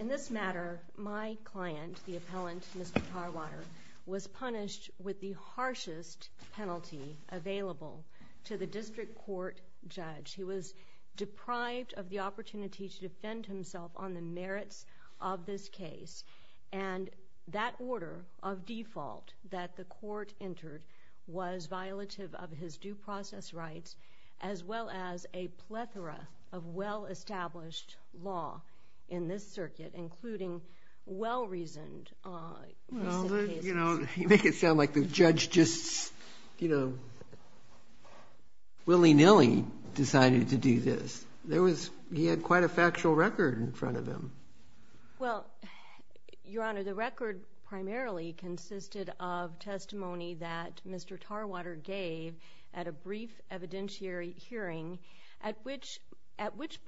In this matter, my client, the appellant Mr. Tarwater, was punished with the harshest penalty available to the district court judge. He was deprived of the opportunity to defend himself on the merits of this case. And that order of default that the court entered was violative of his due process rights, as well as a plethora of well-established law in this circuit, including well-reasoned cases. Well, you make it sound like the judge just willy-nilly decided to do this. He had quite a factual record in front of him. Well, Your Honor, the record primarily consisted of testimony that Mr. Tarwater gave at a brief evidentiary hearing, at which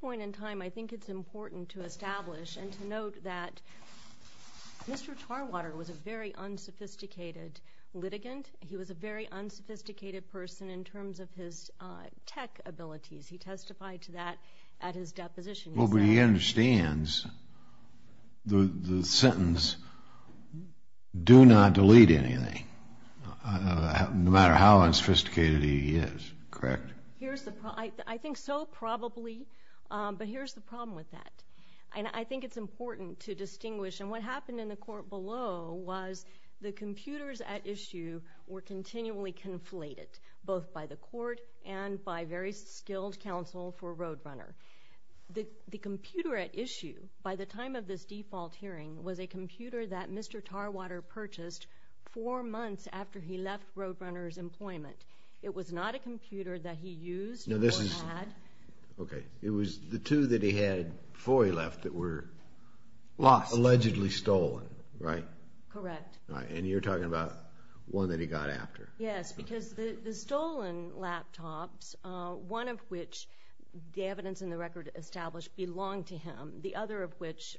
point in time I think it's important to establish and to note that Mr. Tarwater was a very unsophisticated litigant. He was a very unsophisticated person in terms of his tech abilities. He testified to that at his deposition. Well, but he understands the sentence, do not delete anything, no matter how unsophisticated he is. Correct? I think so, probably. But here's the problem with that. And I think it's important to distinguish. And what happened in the court below was the computers at issue were continually conflated, both by the court and by very skilled counsel for Roadrunner. The computer at issue by the time of this default hearing was a computer that Mr. Tarwater purchased four months after he left Roadrunner's employment. It was not a computer that he used or had. Okay. It was the two that he had before he left that were allegedly stolen, right? Correct. And you're talking about one that he got after. Yes, because the stolen laptops, one of which the evidence in the record established belonged to him, the other of which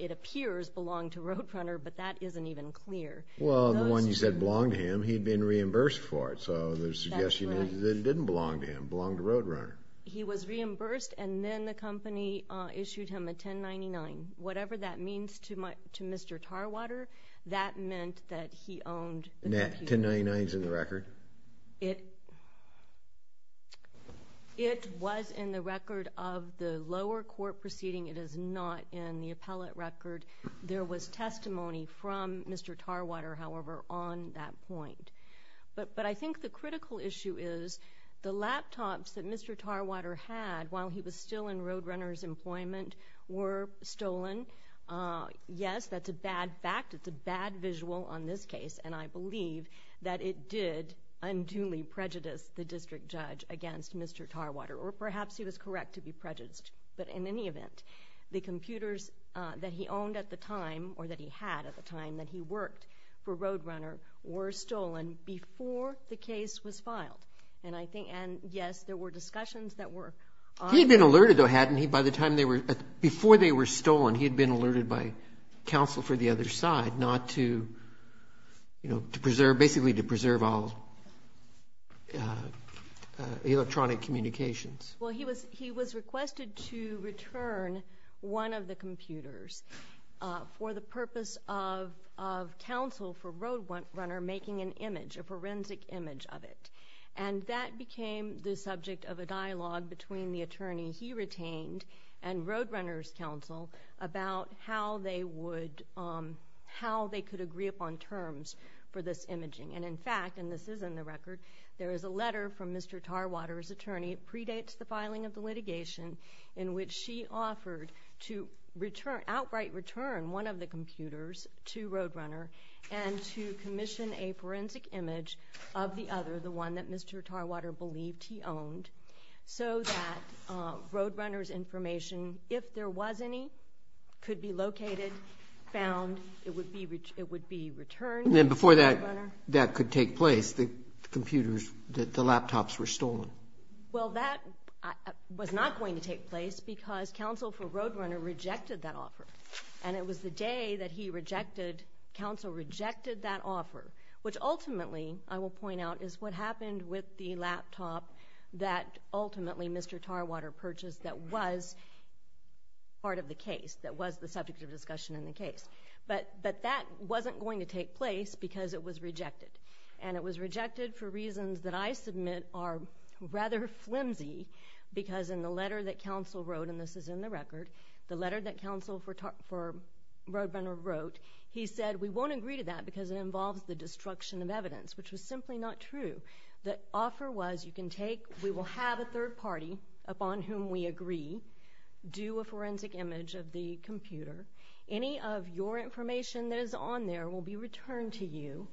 it appears belonged to Roadrunner, but that isn't even clear. Well, the one you said belonged to him, he'd been reimbursed for it. So the suggestion is it didn't belong to him, it belonged to Roadrunner. He was reimbursed, and then the company issued him a 1099. Whatever that means to Mr. Tarwater, that meant that he owned the computer. 1099's in the record? It was in the record of the lower court proceeding. It is not in the appellate record. There was testimony from Mr. Tarwater, however, on that point. But I think the critical issue is the laptops that Mr. Tarwater had while he was still in Roadrunner's employment were stolen. Yes, that's a bad fact. It's a bad visual on this case, and I believe that it did unduly prejudice the district judge against Mr. Tarwater, or perhaps he was correct to be prejudiced. But in any event, the computers that he owned at the time, or that he had at the time that he worked for Roadrunner, were stolen before the case was filed. And, yes, there were discussions that were. He had been alerted, though, hadn't he? Before they were stolen, he had been alerted by counsel for the other side, basically to preserve all electronic communications. Well, he was requested to return one of the computers for the purpose of counsel for Roadrunner making an image, a forensic image of it. And that became the subject of a dialogue between the attorney he retained and Roadrunner's counsel about how they could agree upon terms for this imaging. And, in fact, and this is in the record, there is a letter from Mr. Tarwater's attorney. It predates the filing of the litigation in which she offered to outright return one of the computers to Roadrunner and to commission a forensic image of the other, the one that Mr. Tarwater believed he owned, so that Roadrunner's information, if there was any, could be located, found, it would be returned to Roadrunner. And then before that could take place, the computers, the laptops were stolen. Well, that was not going to take place because counsel for Roadrunner rejected that offer. And it was the day that he rejected, counsel rejected that offer, which ultimately, I will point out, is what happened with the laptop that ultimately Mr. Tarwater purchased that was part of the case, that was the subject of discussion in the case. But that wasn't going to take place because it was rejected. And it was rejected for reasons that I submit are rather flimsy because in the letter that counsel wrote, and this is in the record, the letter that counsel for Roadrunner wrote, he said, we won't agree to that because it involves the destruction of evidence, which was simply not true. The offer was you can take, we will have a third party upon whom we agree do a forensic image of the computer. Any of your information that is on there will be returned to you,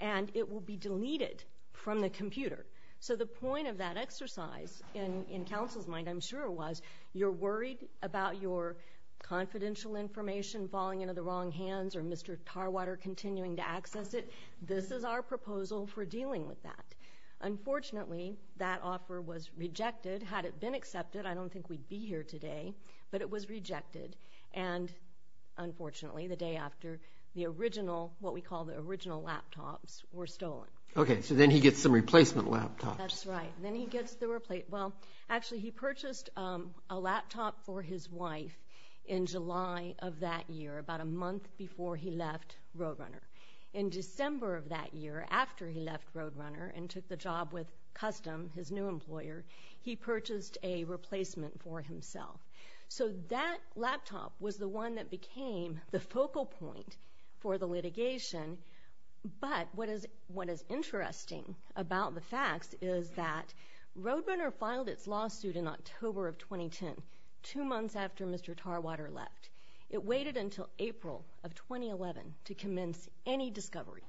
and it will be deleted from the computer. So the point of that exercise in counsel's mind, I'm sure, was you're worried about your confidential information falling into the wrong hands or Mr. Tarwater continuing to access it. This is our proposal for dealing with that. Unfortunately, that offer was rejected. Had it been accepted, I don't think we'd be here today, but it was rejected. And unfortunately, the day after, the original, what we call the original laptops were stolen. Okay, so then he gets some replacement laptops. That's right. Then he gets the replacement. Well, actually, he purchased a laptop for his wife in July of that year, about a month before he left Roadrunner. In December of that year, after he left Roadrunner and took the job with Custom, his new employer, he purchased a replacement for himself. So that laptop was the one that became the focal point for the litigation. But what is interesting about the facts is that Roadrunner filed its lawsuit in October of 2010, two months after Mr. Tarwater left. It waited until April of 2011 to commence any discovery,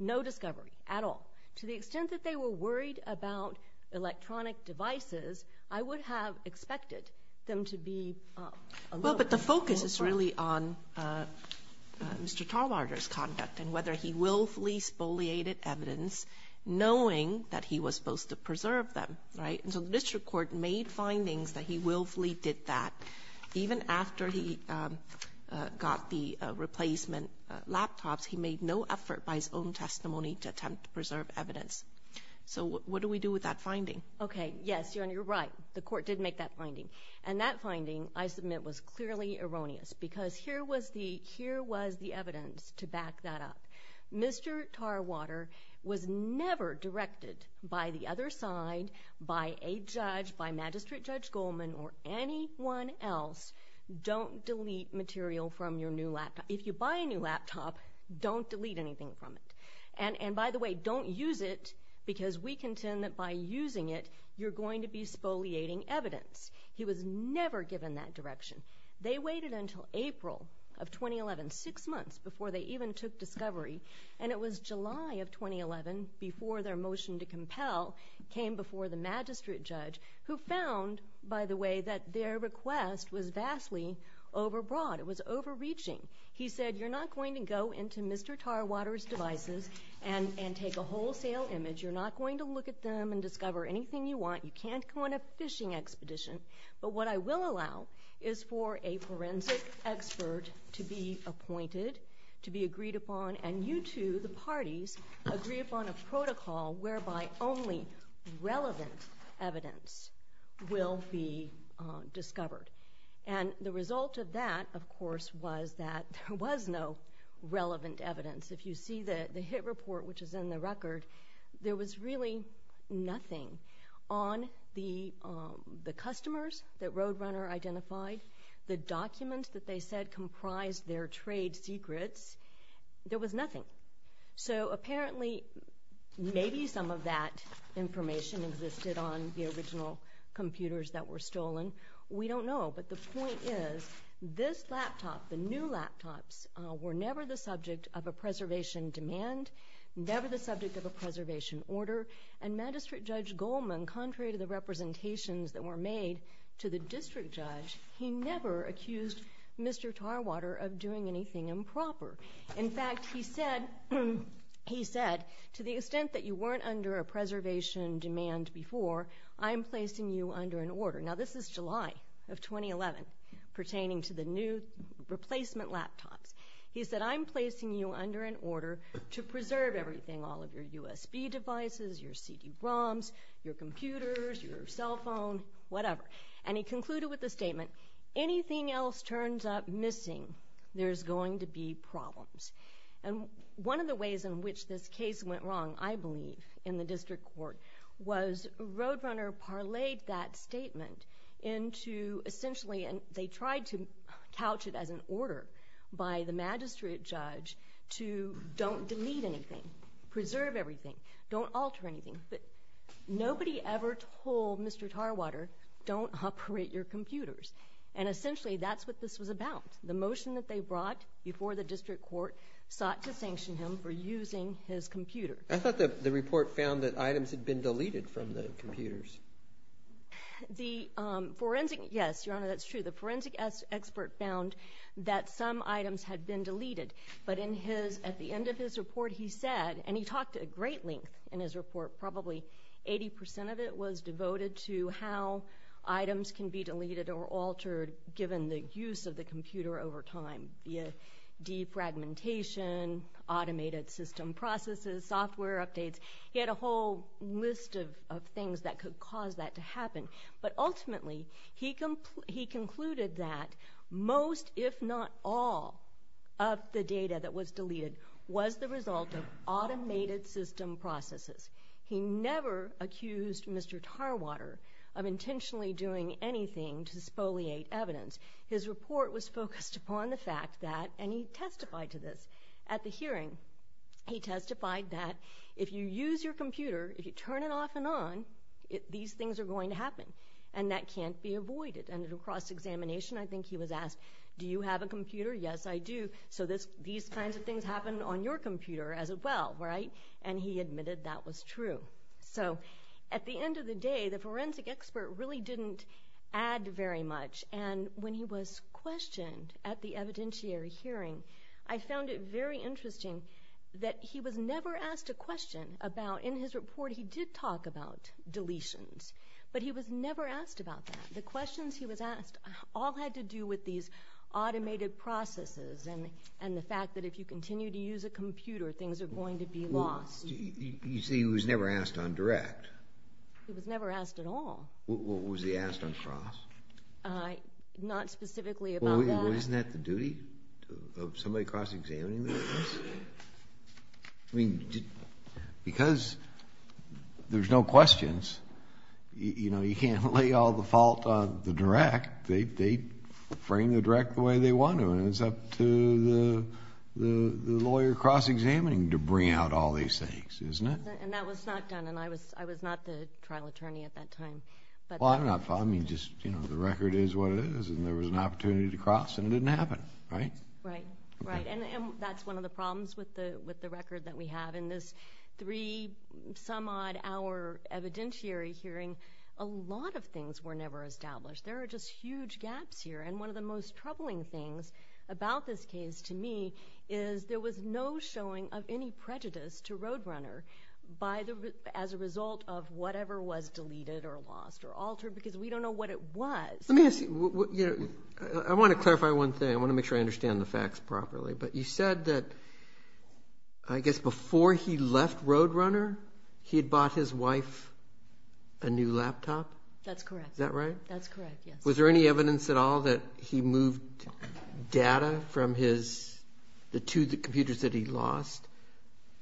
no discovery at all. To the extent that they were worried about electronic devices, I would have expected them to be alone. Well, but the focus is really on Mr. Tarwater's conduct and whether he willfully spoliated evidence, knowing that he was supposed to preserve them, right? And so the district court made findings that he willfully did that. Even after he got the replacement laptops, he made no effort by his own testimony to attempt to preserve evidence. So what do we do with that finding? Okay, yes, Your Honor, you're right. The court did make that finding. And that finding, I submit, was clearly erroneous because here was the evidence to back that up. Mr. Tarwater was never directed by the other side, by a judge, by Magistrate Judge Goldman, or anyone else, don't delete material from your new laptop. If you buy a new laptop, don't delete anything from it. And, by the way, don't use it because we contend that by using it, you're going to be spoliating evidence. He was never given that direction. They waited until April of 2011, six months before they even took discovery, and it was July of 2011 before their motion to compel came before the Magistrate Judge, who found, by the way, that their request was vastly overbroad. It was overreaching. He said, you're not going to go into Mr. Tarwater's devices and take a wholesale image. You're not going to look at them and discover anything you want. You can't go on a fishing expedition. But what I will allow is for a forensic expert to be appointed, to be agreed upon, and you two, the parties, agree upon a protocol whereby only relevant evidence will be discovered. And the result of that, of course, was that there was no relevant evidence. If you see the HIT report, which is in the record, there was really nothing on the customers that Roadrunner identified, the documents that they said comprised their trade secrets. There was nothing. So, apparently, maybe some of that information existed on the original computers that were stolen. We don't know. But the point is, this laptop, the new laptops, were never the subject of a preservation demand, never the subject of a preservation order, and Magistrate Judge Goldman, contrary to the representations that were made to the district judge, he never accused Mr. Tarwater of doing anything improper. In fact, he said, to the extent that you weren't under a preservation demand before, I'm placing you under an order. Now, this is July of 2011, pertaining to the new replacement laptops. He said, I'm placing you under an order to preserve everything, all of your USB devices, your CD-ROMs, your computers, your cell phone, whatever. And he concluded with the statement, anything else turns up missing, there's going to be problems. And one of the ways in which this case went wrong, I believe, in the district court, was Roadrunner parlayed that statement into, essentially, and they tried to couch it as an order by the magistrate judge to don't delete anything, preserve everything, don't alter anything. But nobody ever told Mr. Tarwater, don't operate your computers. And essentially, that's what this was about. The motion that they brought before the district court sought to sanction him for using his computer. I thought the report found that items had been deleted from the computers. The forensic, yes, Your Honor, that's true. The forensic expert found that some items had been deleted. But in his, at the end of his report, he said, and he talked at great length in his report, probably 80% of it was devoted to how items can be deleted or altered given the use of the computer over time. De-fragmentation, automated system processes, software updates. He had a whole list of things that could cause that to happen. But ultimately, he concluded that most, if not all, of the data that was deleted was the result of automated system processes. He never accused Mr. Tarwater of intentionally doing anything to spoliate evidence. His report was focused upon the fact that, and he testified to this at the hearing, he testified that if you use your computer, if you turn it off and on, these things are going to happen. And that can't be avoided. And at a cross-examination, I think he was asked, do you have a computer? Yes, I do. So these kinds of things happen on your computer as well, right? And he admitted that was true. So at the end of the day, the forensic expert really didn't add very much. And when he was questioned at the evidentiary hearing, I found it very interesting that he was never asked a question about, in his report he did talk about deletions, but he was never asked about that. The questions he was asked all had to do with these automated processes and the fact that if you continue to use a computer, things are going to be lost. You say he was never asked on direct. He was never asked at all. Was he asked on cross? Not specifically about that. Well, isn't that the duty of somebody cross-examining the case? I mean, because there's no questions, you know, you can't lay all the fault on the direct. They frame the direct the way they want to, and it's up to the lawyer cross-examining to bring out all these things, isn't it? And that was not done, and I was not the trial attorney at that time. Well, I'm not following. Just, you know, the record is what it is, and there was an opportunity to cross, and it didn't happen, right? Right, right. And that's one of the problems with the record that we have. In this three-some-odd-hour evidentiary hearing, a lot of things were never established. There are just huge gaps here. And one of the most troubling things about this case to me is there was no showing of any prejudice to Roadrunner as a result of whatever was deleted or lost or altered because we don't know what it was. Let me ask you, you know, I want to clarify one thing. I want to make sure I understand the facts properly. But you said that, I guess, before he left Roadrunner, he had bought his wife a new laptop? That's correct. Is that right? That's correct, yes. Was there any evidence at all that he moved data from the two computers that he lost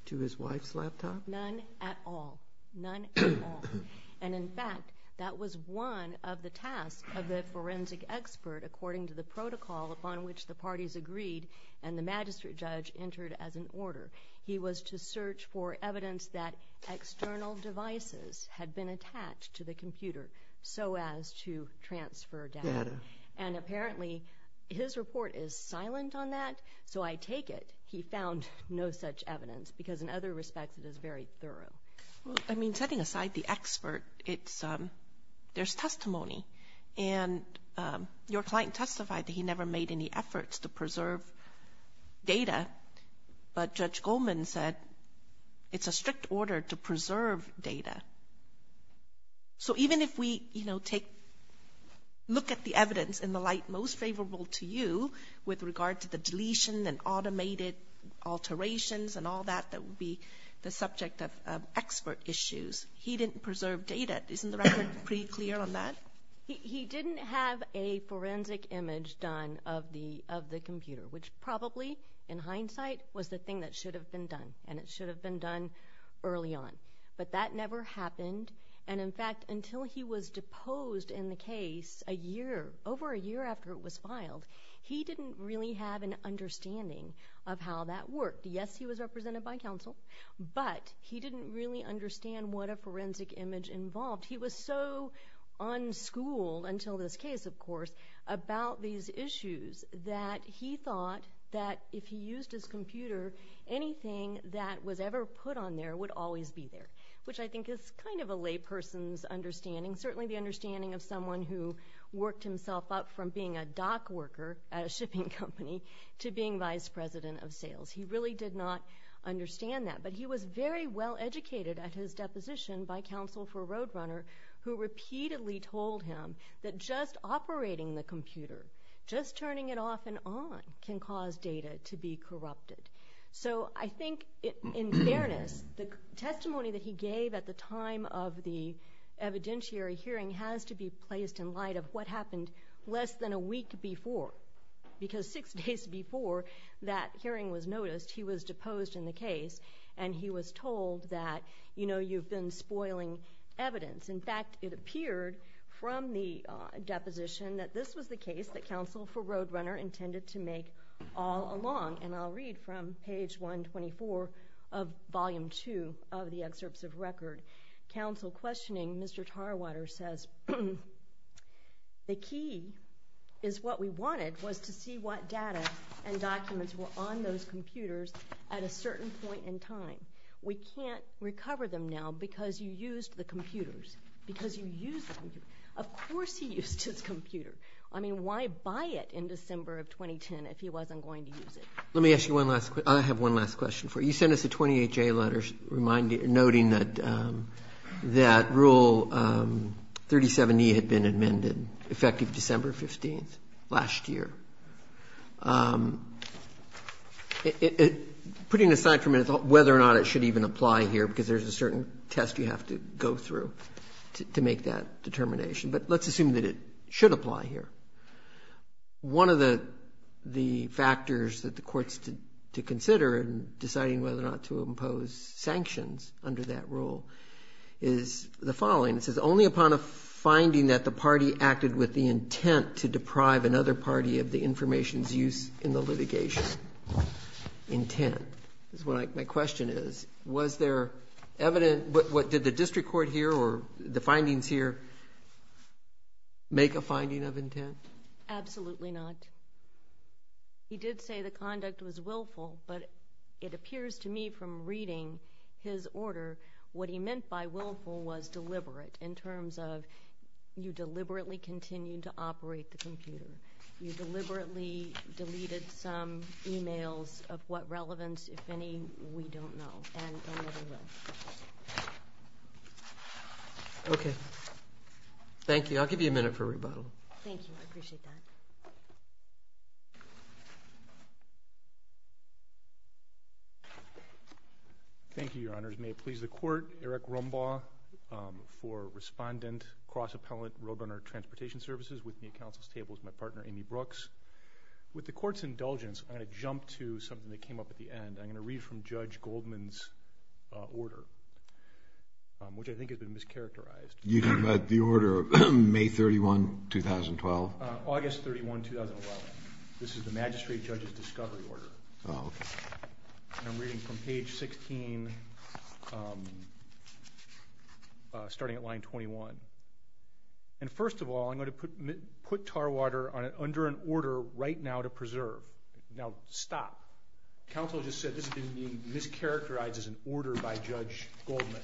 to his wife's laptop? None at all, none at all. And, in fact, that was one of the tasks of the forensic expert according to the protocol upon which the parties agreed and the magistrate judge entered as an order. He was to search for evidence that external devices had been attached to the computer so as to transfer data. And, apparently, his report is silent on that. So I take it he found no such evidence because, in other respects, it is very thorough. I mean, setting aside the expert, there's testimony. And your client testified that he never made any efforts to preserve data. But Judge Goldman said it's a strict order to preserve data. So even if we, you know, look at the evidence in the light most favorable to you with regard to the deletion and automated alterations and all that that would be the subject of expert issues, he didn't preserve data. Isn't the record pretty clear on that? He didn't have a forensic image done of the computer, which probably, in hindsight, was the thing that should have been done. And it should have been done early on. But that never happened. And, in fact, until he was deposed in the case a year, over a year after it was filed, he didn't really have an understanding of how that worked. Yes, he was represented by counsel, but he didn't really understand what a forensic image involved. He was so unschooled until this case, of course, about these issues that he thought that if he used his computer, anything that was ever put on there would always be there, which I think is kind of a lay person's understanding, certainly the understanding of someone who worked himself up from being a dock worker at a shipping company to being vice president of sales. He really did not understand that. But he was very well educated at his deposition by counsel for Roadrunner, who repeatedly told him that just operating the computer, just turning it off and on, can cause data to be corrupted. So I think, in fairness, the testimony that he gave at the time of the evidentiary hearing has to be placed in light of what happened less than a week before, because six days before that hearing was noticed, he was deposed in the case, and he was told that, you know, you've been spoiling evidence. In fact, it appeared from the deposition that this was the case that counsel for Roadrunner intended to make all along, and I'll read from page 124 of volume 2 of the excerpts of record. Counsel questioning Mr. Tarwater says, the key is what we wanted was to see what data and documents were on those computers at a certain point in time. We can't recover them now because you used the computers. Because you used the computers. Of course he used his computer. I mean, why buy it in December of 2010 if he wasn't going to use it? Let me ask you one last question. I have one last question for you. You sent us a 28-J letter noting that Rule 37E had been amended, effective December 15th, last year. Putting aside for a minute whether or not it should even apply here, because there's a certain test you have to go through to make that determination, but let's assume that it should apply here. One of the factors that the courts to consider in deciding whether or not to impose sanctions under that rule is the following. It says, only upon a finding that the party acted with the intent to deprive another party of the information's use in the litigation. Intent. My question is, did the district court here or the findings here make a finding of intent? Absolutely not. He did say the conduct was willful, but it appears to me from reading his order, what he meant by willful was deliberate in terms of you deliberately continued to operate the computer. You deliberately deleted some e-mails of what relevance, if any, we don't know and never will. Okay. Thank you. I'll give you a minute for rebuttal. Thank you. I appreciate that. Thank you, Your Honors. Your Honors, may it please the court, Eric Rumbaugh for respondent, cross-appellant, Roadrunner Transportation Services, with me at counsel's table is my partner, Amy Brooks. With the court's indulgence, I'm going to jump to something that came up at the end. I'm going to read from Judge Goldman's order, which I think has been mischaracterized. You're talking about the order of May 31, 2012? August 31, 2011. This is the magistrate judge's discovery order. Oh, okay. I'm reading from page 16, starting at line 21. And first of all, I'm going to put Tarwater under an order right now to preserve. Now, stop. Counsel just said this has been mischaracterized as an order by Judge Goldman.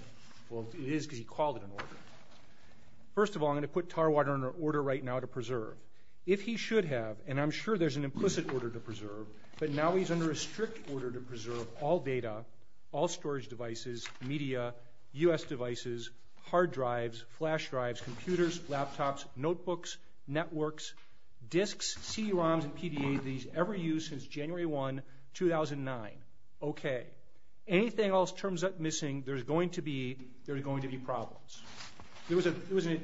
Well, it is because he called it an order. First of all, I'm going to put Tarwater under an order right now to preserve. If he should have, and I'm sure there's an implicit order to preserve, but now he's under a strict order to preserve all data, all storage devices, media, U.S. devices, hard drives, flash drives, computers, laptops, notebooks, networks, disks, C-ROMs, and PDAs that he's ever used since January 1, 2009. Okay. Anything else turns up missing, there's going to be problems. There was a, there was a,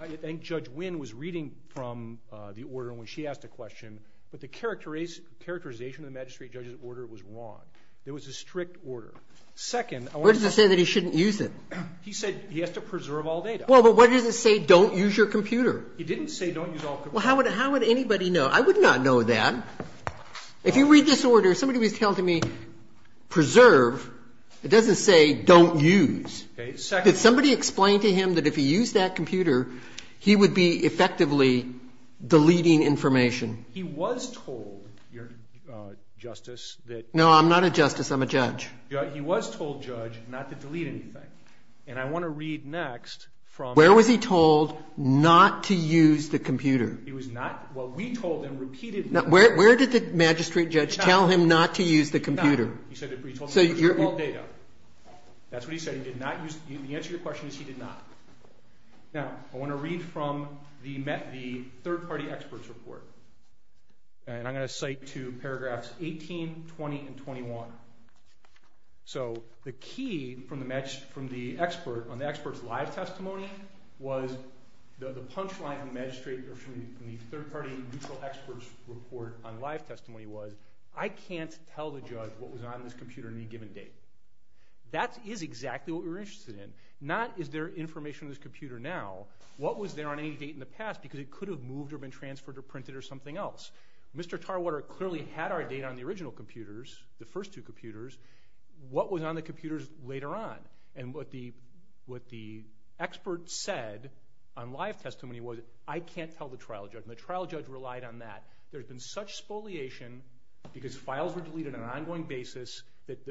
I think Judge Wynn was reading from the order when she asked a question, but the characterization of the magistrate judge's order was wrong. It was a strict order. Second, I wanted to say. What does it say that he shouldn't use it? He said he has to preserve all data. Well, but what does it say don't use your computer? It didn't say don't use all computers. Well, how would anybody know? I would not know that. If you read this order, somebody was telling me preserve, it doesn't say don't use. Okay. Second. Did somebody explain to him that if he used that computer, he would be effectively deleting information? He was told, Justice, that. No, I'm not a justice. I'm a judge. He was told, Judge, not to delete anything. And I want to read next from. Where was he told not to use the computer? He was not, well, we told him repeatedly. Where did the magistrate judge tell him not to use the computer? He said preserve all data. That's what he said. The answer to your question is he did not. Now, I want to read from the third-party expert's report. And I'm going to cite to paragraphs 18, 20, and 21. So the key from the expert on the expert's live testimony was the punchline from the magistrate or from the third-party neutral expert's report on live testimony was, I can't tell the judge what was on this computer on any given date. That is exactly what we were interested in. Not is there information on this computer now. What was there on any date in the past? Because it could have moved or been transferred or printed or something else. Mr. Tarwater clearly had our data on the original computers, the first two computers. What was on the computers later on? And what the expert said on live testimony was, I can't tell the trial judge. And the trial judge relied on that. There had been such spoliation because files were deleted on an ongoing basis that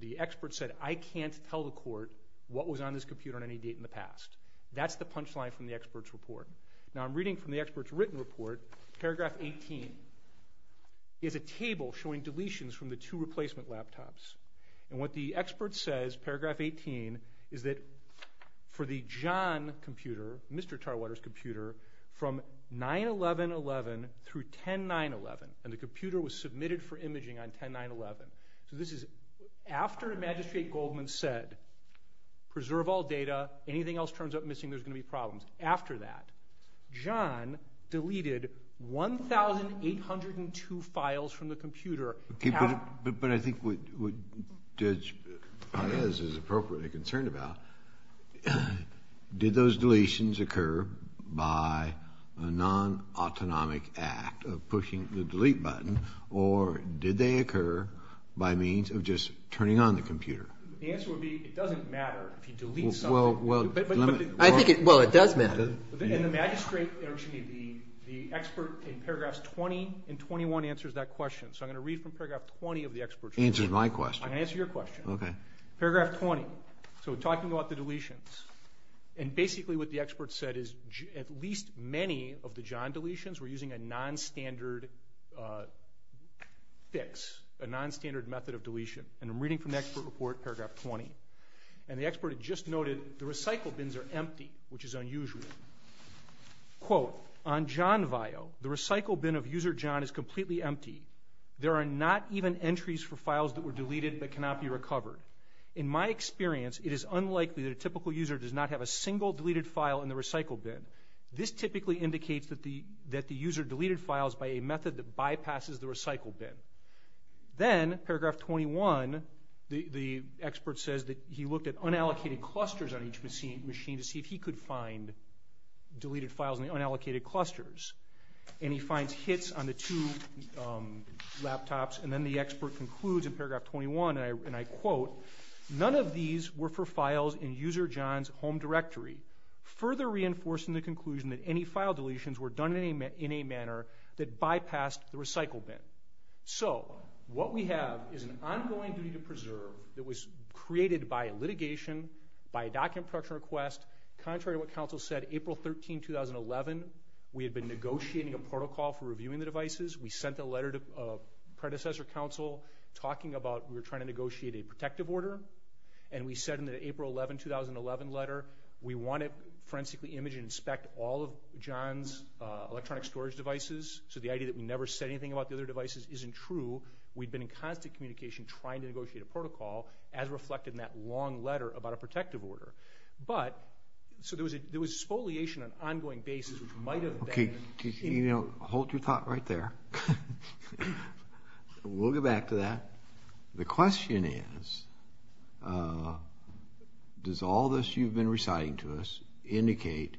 the expert said, I can't tell the court what was on this computer on any date in the past. That's the punchline from the expert's report. Now, I'm reading from the expert's written report. Paragraph 18 is a table showing deletions from the two replacement laptops. And what the expert says, paragraph 18, is that for the John computer, Mr. Tarwater's computer, from 9-11-11 through 10-9-11. And the computer was submitted for imaging on 10-9-11. So this is after Magistrate Goldman said, preserve all data. Anything else turns up missing, there's going to be problems. After that, John deleted 1,802 files from the computer. But I think what Judge Farias is appropriately concerned about, did those deletions occur by a non-autonomic act of pushing the delete button, or did they occur by means of just turning on the computer? The answer would be it doesn't matter if you delete something. Well, it does matter. And the magistrate, excuse me, the expert in paragraphs 20 and 21 answers that question. So I'm going to read from paragraph 20 of the expert's report. He answers my question. I'm going to answer your question. Okay. Paragraph 20, so talking about the deletions, and basically what the expert said is at least many of the John deletions were using a non-standard fix, a non-standard method of deletion. And I'm reading from the expert report, paragraph 20. And the expert had just noted the recycle bins are empty, which is unusual. Quote, on John VIO, the recycle bin of user John is completely empty. There are not even entries for files that were deleted but cannot be recovered. In my experience, it is unlikely that a typical user does not have a single deleted file in the recycle bin. This typically indicates that the user deleted files by a method that bypasses the recycle bin. Then, paragraph 21, the expert says that he looked at unallocated clusters on each machine to see if he could find deleted files in the unallocated clusters. And he finds hits on the two laptops. And then the expert concludes in paragraph 21, and I quote, none of these were for files in user John's home directory, further reinforcing the conclusion that any file deletions were done in a manner that bypassed the recycle bin. So what we have is an ongoing duty to preserve that was created by litigation, by a document production request. Contrary to what counsel said, April 13, 2011, we had been negotiating a protocol for reviewing the devices. We sent a letter to predecessor counsel talking about we were trying to negotiate a protective order. And we said in the April 11, 2011 letter, we want to forensically image and inspect all of John's electronic storage devices. So the idea that we never said anything about the other devices isn't true. We'd been in constant communication trying to negotiate a protocol as reflected in that long letter about a protective order. But, so there was exfoliation on an ongoing basis which might have been. Okay, you know, hold your thought right there. We'll get back to that. The question is, does all this you've been reciting to us indicate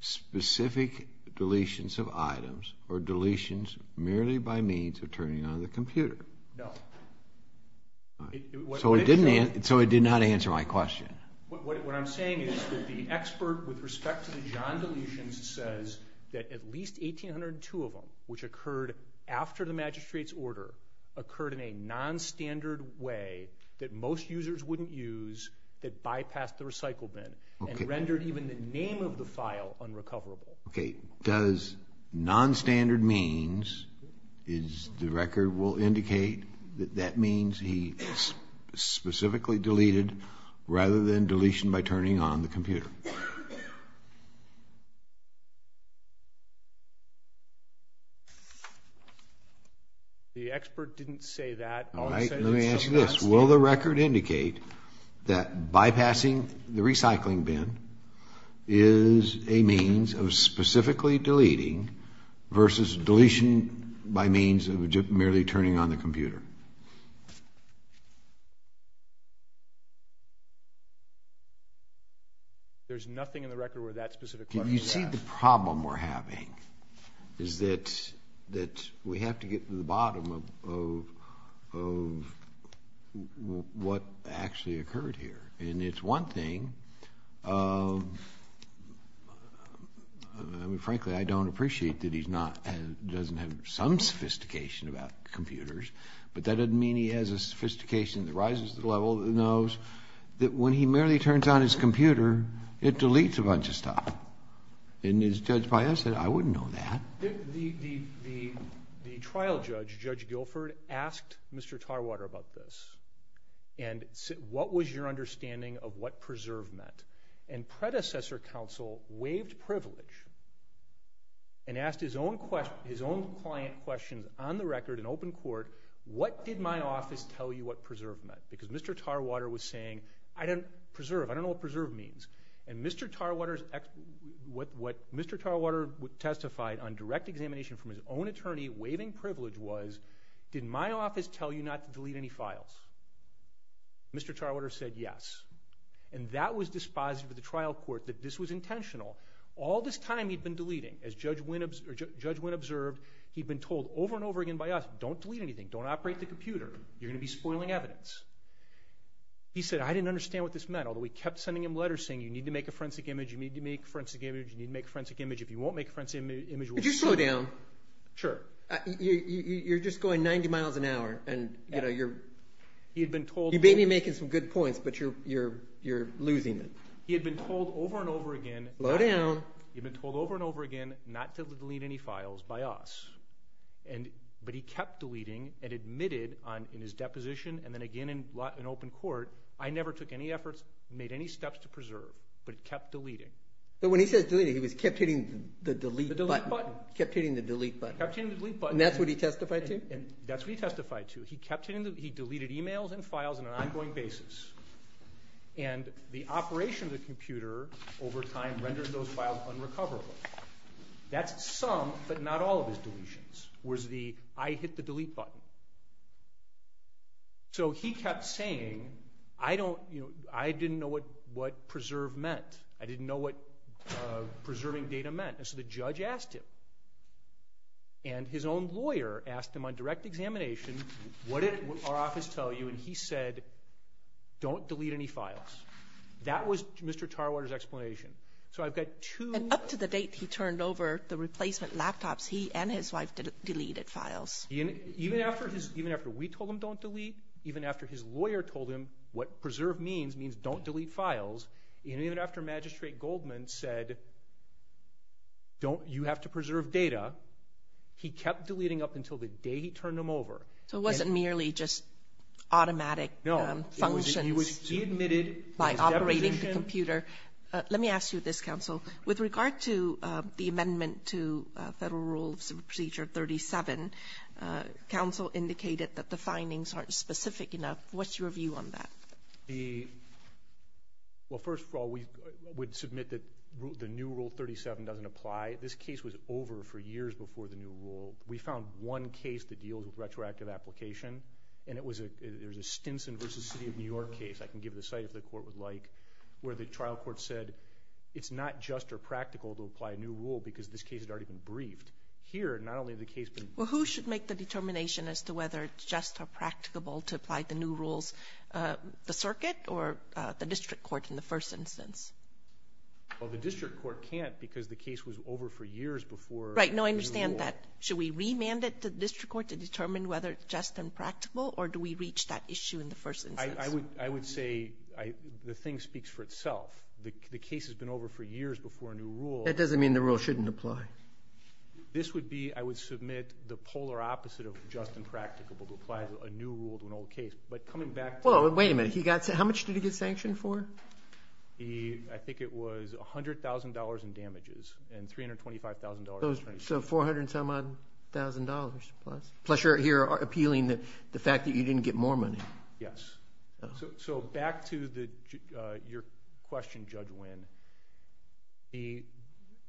specific deletions of items or deletions merely by means of turning on the computer? No. So it did not answer my question. What I'm saying is that the expert with respect to the John deletions says that at least 1,802 of them, which occurred after the magistrate's order, occurred in a nonstandard way that most users wouldn't use that bypassed the recycle bin and rendered even the name of the file unrecoverable. Okay, does nonstandard means is the record will indicate that that means he specifically deleted rather than deletion by turning on the computer? The expert didn't say that. All right, let me ask you this. Will the record indicate that bypassing the recycling bin is a means of specifically deleting versus deletion by means of merely turning on the computer? There's nothing in the record where that specific question is asked. You see the problem we're having is that we have to get to the bottom of what actually occurred here. And it's one thing. Frankly, I don't appreciate that he doesn't have some sophistication about computers, but that doesn't mean he has a sophistication that rises to the level that he knows that when he merely turns on his computer, it deletes a bunch of stuff. And his judge said, I wouldn't know that. The trial judge, Judge Guilford, asked Mr. Tarwater about this and said what was your understanding of what preserve meant. And predecessor counsel waived privilege and asked his own client questions on the record in open court, what did my office tell you what preserve meant? Because Mr. Tarwater was saying preserve, I don't know what preserve means. And what Mr. Tarwater testified on direct examination from his own attorney waiving privilege was, did my office tell you not to delete any files? Mr. Tarwater said yes. And that was dispositive of the trial court that this was intentional. All this time he'd been deleting. As Judge Wynn observed, he'd been told over and over again by us, don't delete anything. Don't operate the computer. You're going to be spoiling evidence. He said, I didn't understand what this meant. Although we kept sending him letters saying you need to make a forensic image, you need to make a forensic image, you need to make a forensic image. If you won't make a forensic image, we'll just kill you. Could you slow down? Sure. You're just going 90 miles an hour. You may be making some good points, but you're losing it. He had been told over and over again. Slow down. He had been told over and over again not to delete any files by us. But he kept deleting and admitted in his deposition and then again in open court, I never took any efforts and made any steps to preserve. But he kept deleting. But when he says deleting, he kept hitting the delete button. The delete button. Kept hitting the delete button. Kept hitting the delete button. And that's what he testified to? That's what he testified to. He deleted e-mails and files on an ongoing basis. And the operation of the computer over time rendered those files unrecoverable. That's some, but not all of his deletions was the I hit the delete button. So he kept saying, I didn't know what preserve meant. I didn't know what preserving data meant. And so the judge asked him. And his own lawyer asked him on direct examination, what did our office tell you? And he said, don't delete any files. That was Mr. Tarwater's explanation. So I've got two. And up to the date he turned over the replacement laptops, he and his wife deleted files. Even after we told him don't delete, even after his lawyer told him what preserve means, means don't delete files, and even after Magistrate Goldman said you have to preserve data, he kept deleting up until the day he turned them over. So it wasn't merely just automatic functions by operating the computer. Let me ask you this, Counsel. With regard to the amendment to Federal Rule Procedure 37, Counsel indicated that the findings aren't specific enough. What's your view on that? Well, first of all, we would submit that the new Rule 37 doesn't apply. This case was over for years before the new rule. We found one case that deals with retroactive application, and it was a Stinson v. City of New York case. I can give the site if the Court would like, where the trial court said it's not just or practical to apply a new rule because this case had already been briefed. Here, not only has the case been briefed. Well, who should make the determination as to whether it's just or practicable to apply the new rules, the circuit or the district court in the first instance? Well, the district court can't because the case was over for years before the new rule. Right. No, I understand that. Should we remand it to the district court to determine whether it's just and practical, or do we reach that issue in the first instance? I would say the thing speaks for itself. The case has been over for years before a new rule. That doesn't mean the rule shouldn't apply. This would be, I would submit, the polar opposite of just and practicable, to apply a new rule to an old case. But coming back to the— Wait a minute. How much did he get sanctioned for? I think it was $100,000 in damages and $325,000— So $400,000-plus. Plus you're appealing the fact that you didn't get more money. Yes. So back to your question, Judge Winn.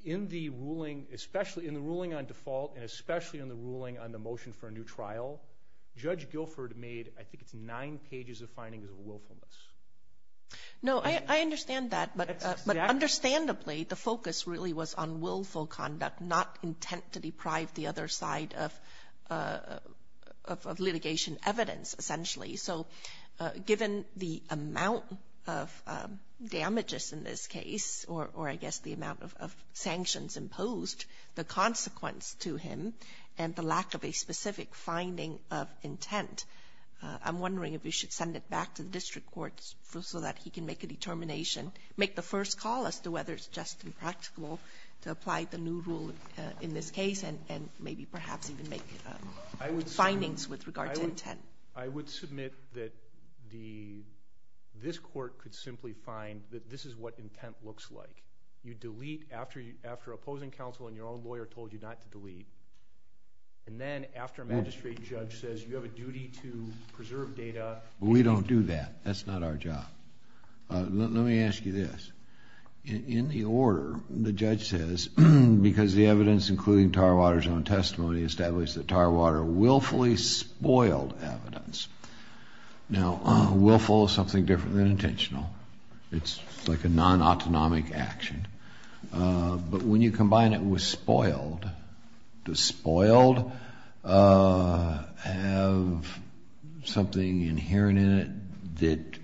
In the ruling, especially in the ruling on default and especially in the ruling on the motion for a new trial, Judge Guilford made I think it's nine pages of findings of willfulness. No, I understand that. But understandably, the focus really was on willful conduct, not intent to deprive the other side of litigation evidence, essentially. So given the amount of damages in this case, or I guess the amount of sanctions imposed, the consequence to him and the lack of a specific finding of intent, I'm wondering if you should send it back to the district courts so that he can make a determination, make the first call as to whether it's just impractical to apply the new rule in this case and maybe perhaps even make findings with regard to intent. I would submit that this court could simply find that this is what intent looks like. You delete after opposing counsel and your own lawyer told you not to delete, and then after a magistrate judge says you have a duty to preserve data— We don't do that. That's not our job. Let me ask you this. In the order, the judge says, because the evidence including Tarwater's own testimony established that Tarwater willfully spoiled evidence. Now, willful is something different than intentional. It's like a non-autonomic action. But when you combine it with spoiled, does spoiled have something inherent in it that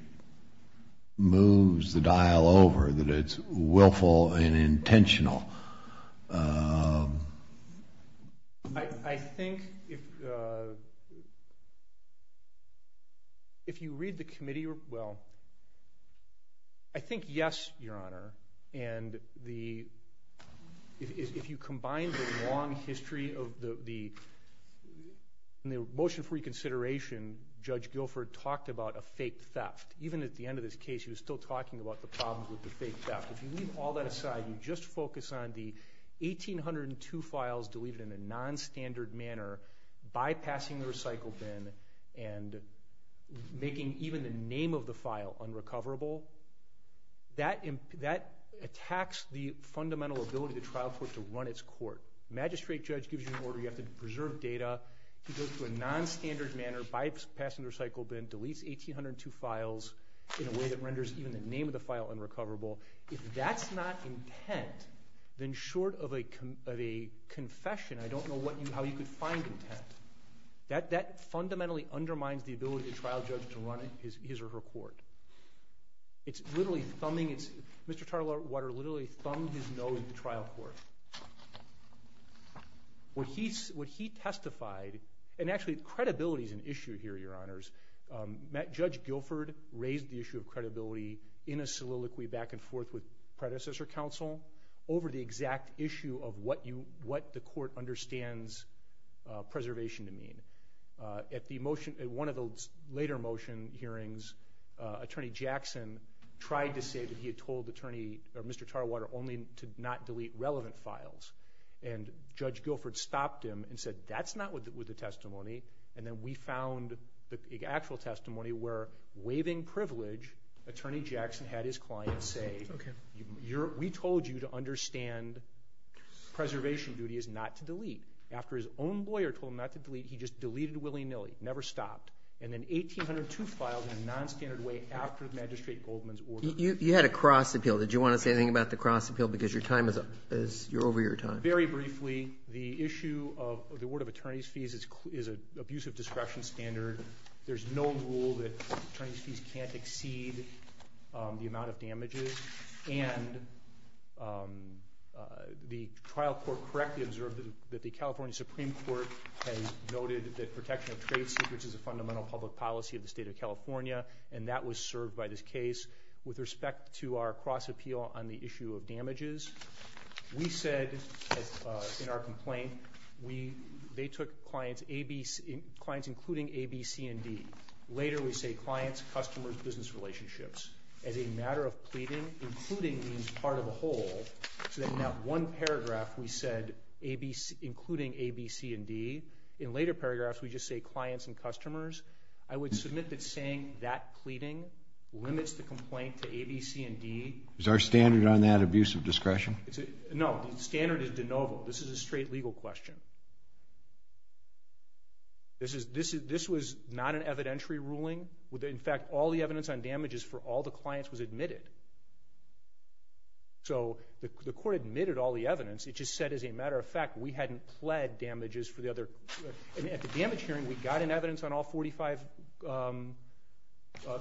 moves the dial over, that it's willful and intentional? I think if you read the committee—well, I think yes, Your Honor. And if you combine the long history of the motion for reconsideration, Judge Guilford talked about a fake theft. Even at the end of this case, he was still talking about the problems with the fake theft. If you leave all that aside, you just focus on the 1,802 files deleted in a non-standard manner, bypassing the recycle bin, and making even the name of the file unrecoverable, that attacks the fundamental ability of the trial court to run its court. The magistrate judge gives you an order. You have to preserve data. He goes to a non-standard manner, bypassing the recycle bin, deletes 1,802 files in a way that renders even the name of the file unrecoverable. If that's not intent, then short of a confession, I don't know how you could find intent. That fundamentally undermines the ability of the trial judge to run his or her court. It's literally thumbing—Mr. Tartlewater literally thumbed his nose at the trial court. What he testified—and actually, credibility is an issue here, Your Honors. Judge Guilford raised the issue of credibility in a soliloquy back and forth with predecessor counsel over the exact issue of what the court understands preservation to mean. At one of the later motion hearings, Attorney Jackson tried to say that he had told Mr. Tartlewater only to not delete relevant files, and Judge Guilford stopped him and said, that's not with the testimony, and then we found the actual testimony where, waiving privilege, Attorney Jackson had his client say, we told you to understand preservation duty is not to delete. After his own lawyer told him not to delete, he just deleted willy-nilly, never stopped, and then 1802 filed in a nonstandard way after Magistrate Goldman's order. You had a cross appeal. Did you want to say anything about the cross appeal because you're over your time? Very briefly, the issue of the award of attorney's fees is an abusive discretion standard. There's no rule that attorney's fees can't exceed the amount of damages, and the trial court correctly observed that the California Supreme Court has noted that protection of trade secrets is a fundamental public policy of the state of California, and that was served by this case. With respect to our cross appeal on the issue of damages, we said in our complaint they took clients including A, B, C, and D. Later we say clients, customers, business relationships. As a matter of pleading, including means part of a whole, so that in that one paragraph we said including A, B, C, and D. In later paragraphs we just say clients and customers. I would submit that saying that pleading limits the complaint to A, B, C, and D. Is there a standard on that abusive discretion? No, the standard is de novo. This is a straight legal question. This was not an evidentiary ruling. In fact, all the evidence on damages for all the clients was admitted. So the court admitted all the evidence. It just said as a matter of fact we hadn't pled damages for the other. At the damage hearing we got an evidence on all 45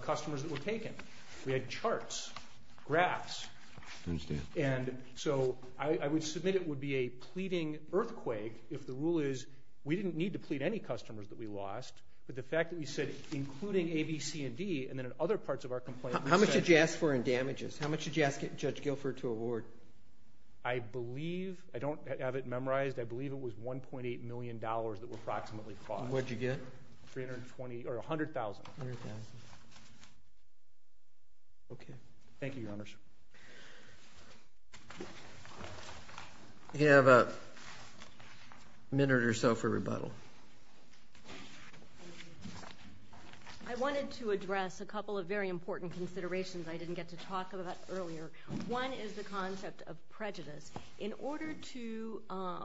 customers that were taken. We had charts, graphs, and so I would submit it would be a pleading earthquake if the rule is we didn't need to plead any customers that we lost, but the fact that we said including A, B, C, and D, and then in other parts of our complaint we said. How much did you ask for in damages? How much did you ask Judge Guilford to award? I believe I don't have it memorized. I believe it was $1.8 million that were approximately fought. What did you get? $100,000. $100,000. Okay. Thank you, Your Honors. You have a minute or so for rebuttal. I wanted to address a couple of very important considerations I didn't get to talk about earlier. One is the concept of prejudice. In order to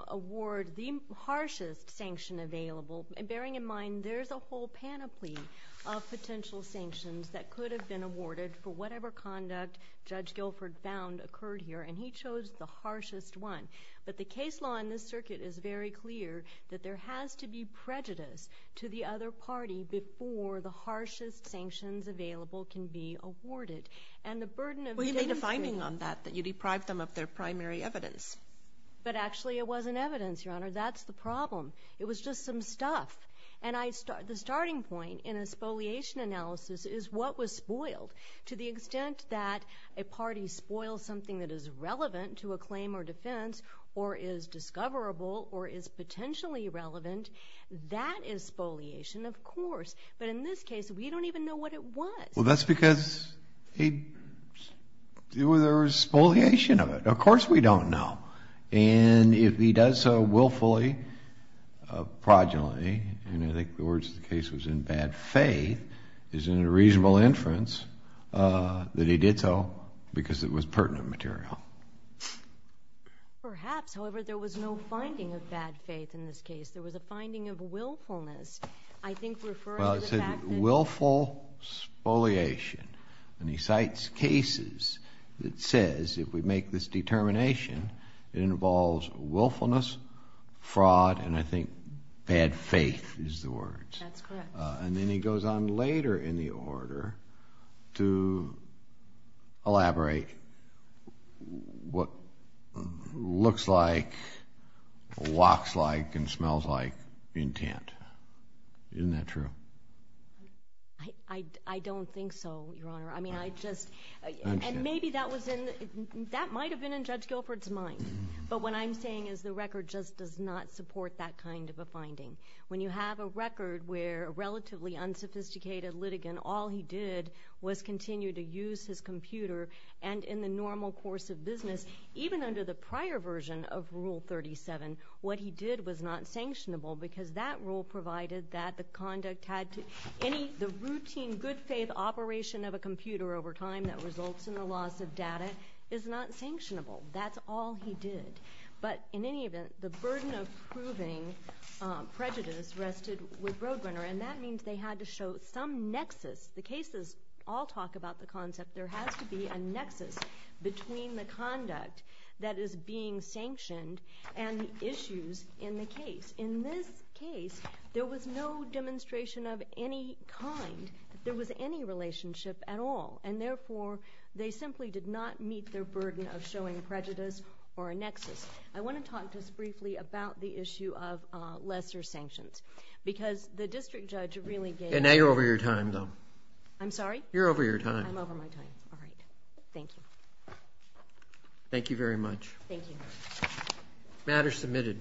award the harshest sanction available, bearing in mind there's a whole panoply of potential sanctions that could have been awarded for whatever conduct Judge Guilford found occurred here, and he chose the harshest one. But the case law in this circuit is very clear that there has to be prejudice to the other party before the harshest sanctions available can be awarded. Well, you made a finding on that, that you deprived them of their primary evidence. But actually it wasn't evidence, Your Honor. That's the problem. It was just some stuff. And the starting point in a spoliation analysis is what was spoiled. To the extent that a party spoils something that is relevant to a claim or defense or is discoverable or is potentially relevant, that is spoliation, of course. But in this case, we don't even know what it was. Well, that's because there was spoliation of it. Of course we don't know. And if he does so willfully, progeny, and I think the words of the case was in bad faith, is in a reasonable inference that he did so because it was pertinent material. Perhaps. However, there was no finding of bad faith in this case. There was a finding of willfulness, I think referring to the fact that Well, it said willful spoliation. And he cites cases that says if we make this determination, it involves willfulness, fraud, and I think bad faith is the word. That's correct. And then he goes on later in the order to elaborate what looks like, walks like, and smells like intent. Isn't that true? I don't think so, Your Honor. I mean, I just, and maybe that was in, that might have been in Judge Guilford's mind. But what I'm saying is the record just does not support that kind of a finding. When you have a record where a relatively unsophisticated litigant, all he did was continue to use his computer, and in the normal course of business, even under the prior version of Rule 37, what he did was not sanctionable because that rule provided that the conduct had to, any, the routine good faith operation of a computer over time that results in the loss of data is not sanctionable. That's all he did. But in any event, the burden of proving prejudice rested with Roadrunner, and that means they had to show some nexus. The cases all talk about the concept there has to be a nexus between the conduct that is being sanctioned and the issues in the case. In this case, there was no demonstration of any kind. There was any relationship at all, and therefore they simply did not meet their burden of showing prejudice or a nexus. I want to talk just briefly about the issue of lesser sanctions because the district judge really gave— And now you're over your time, though. I'm sorry? You're over your time. I'm over my time. All right. Thank you. Thank you very much. Thank you. Matter submitted.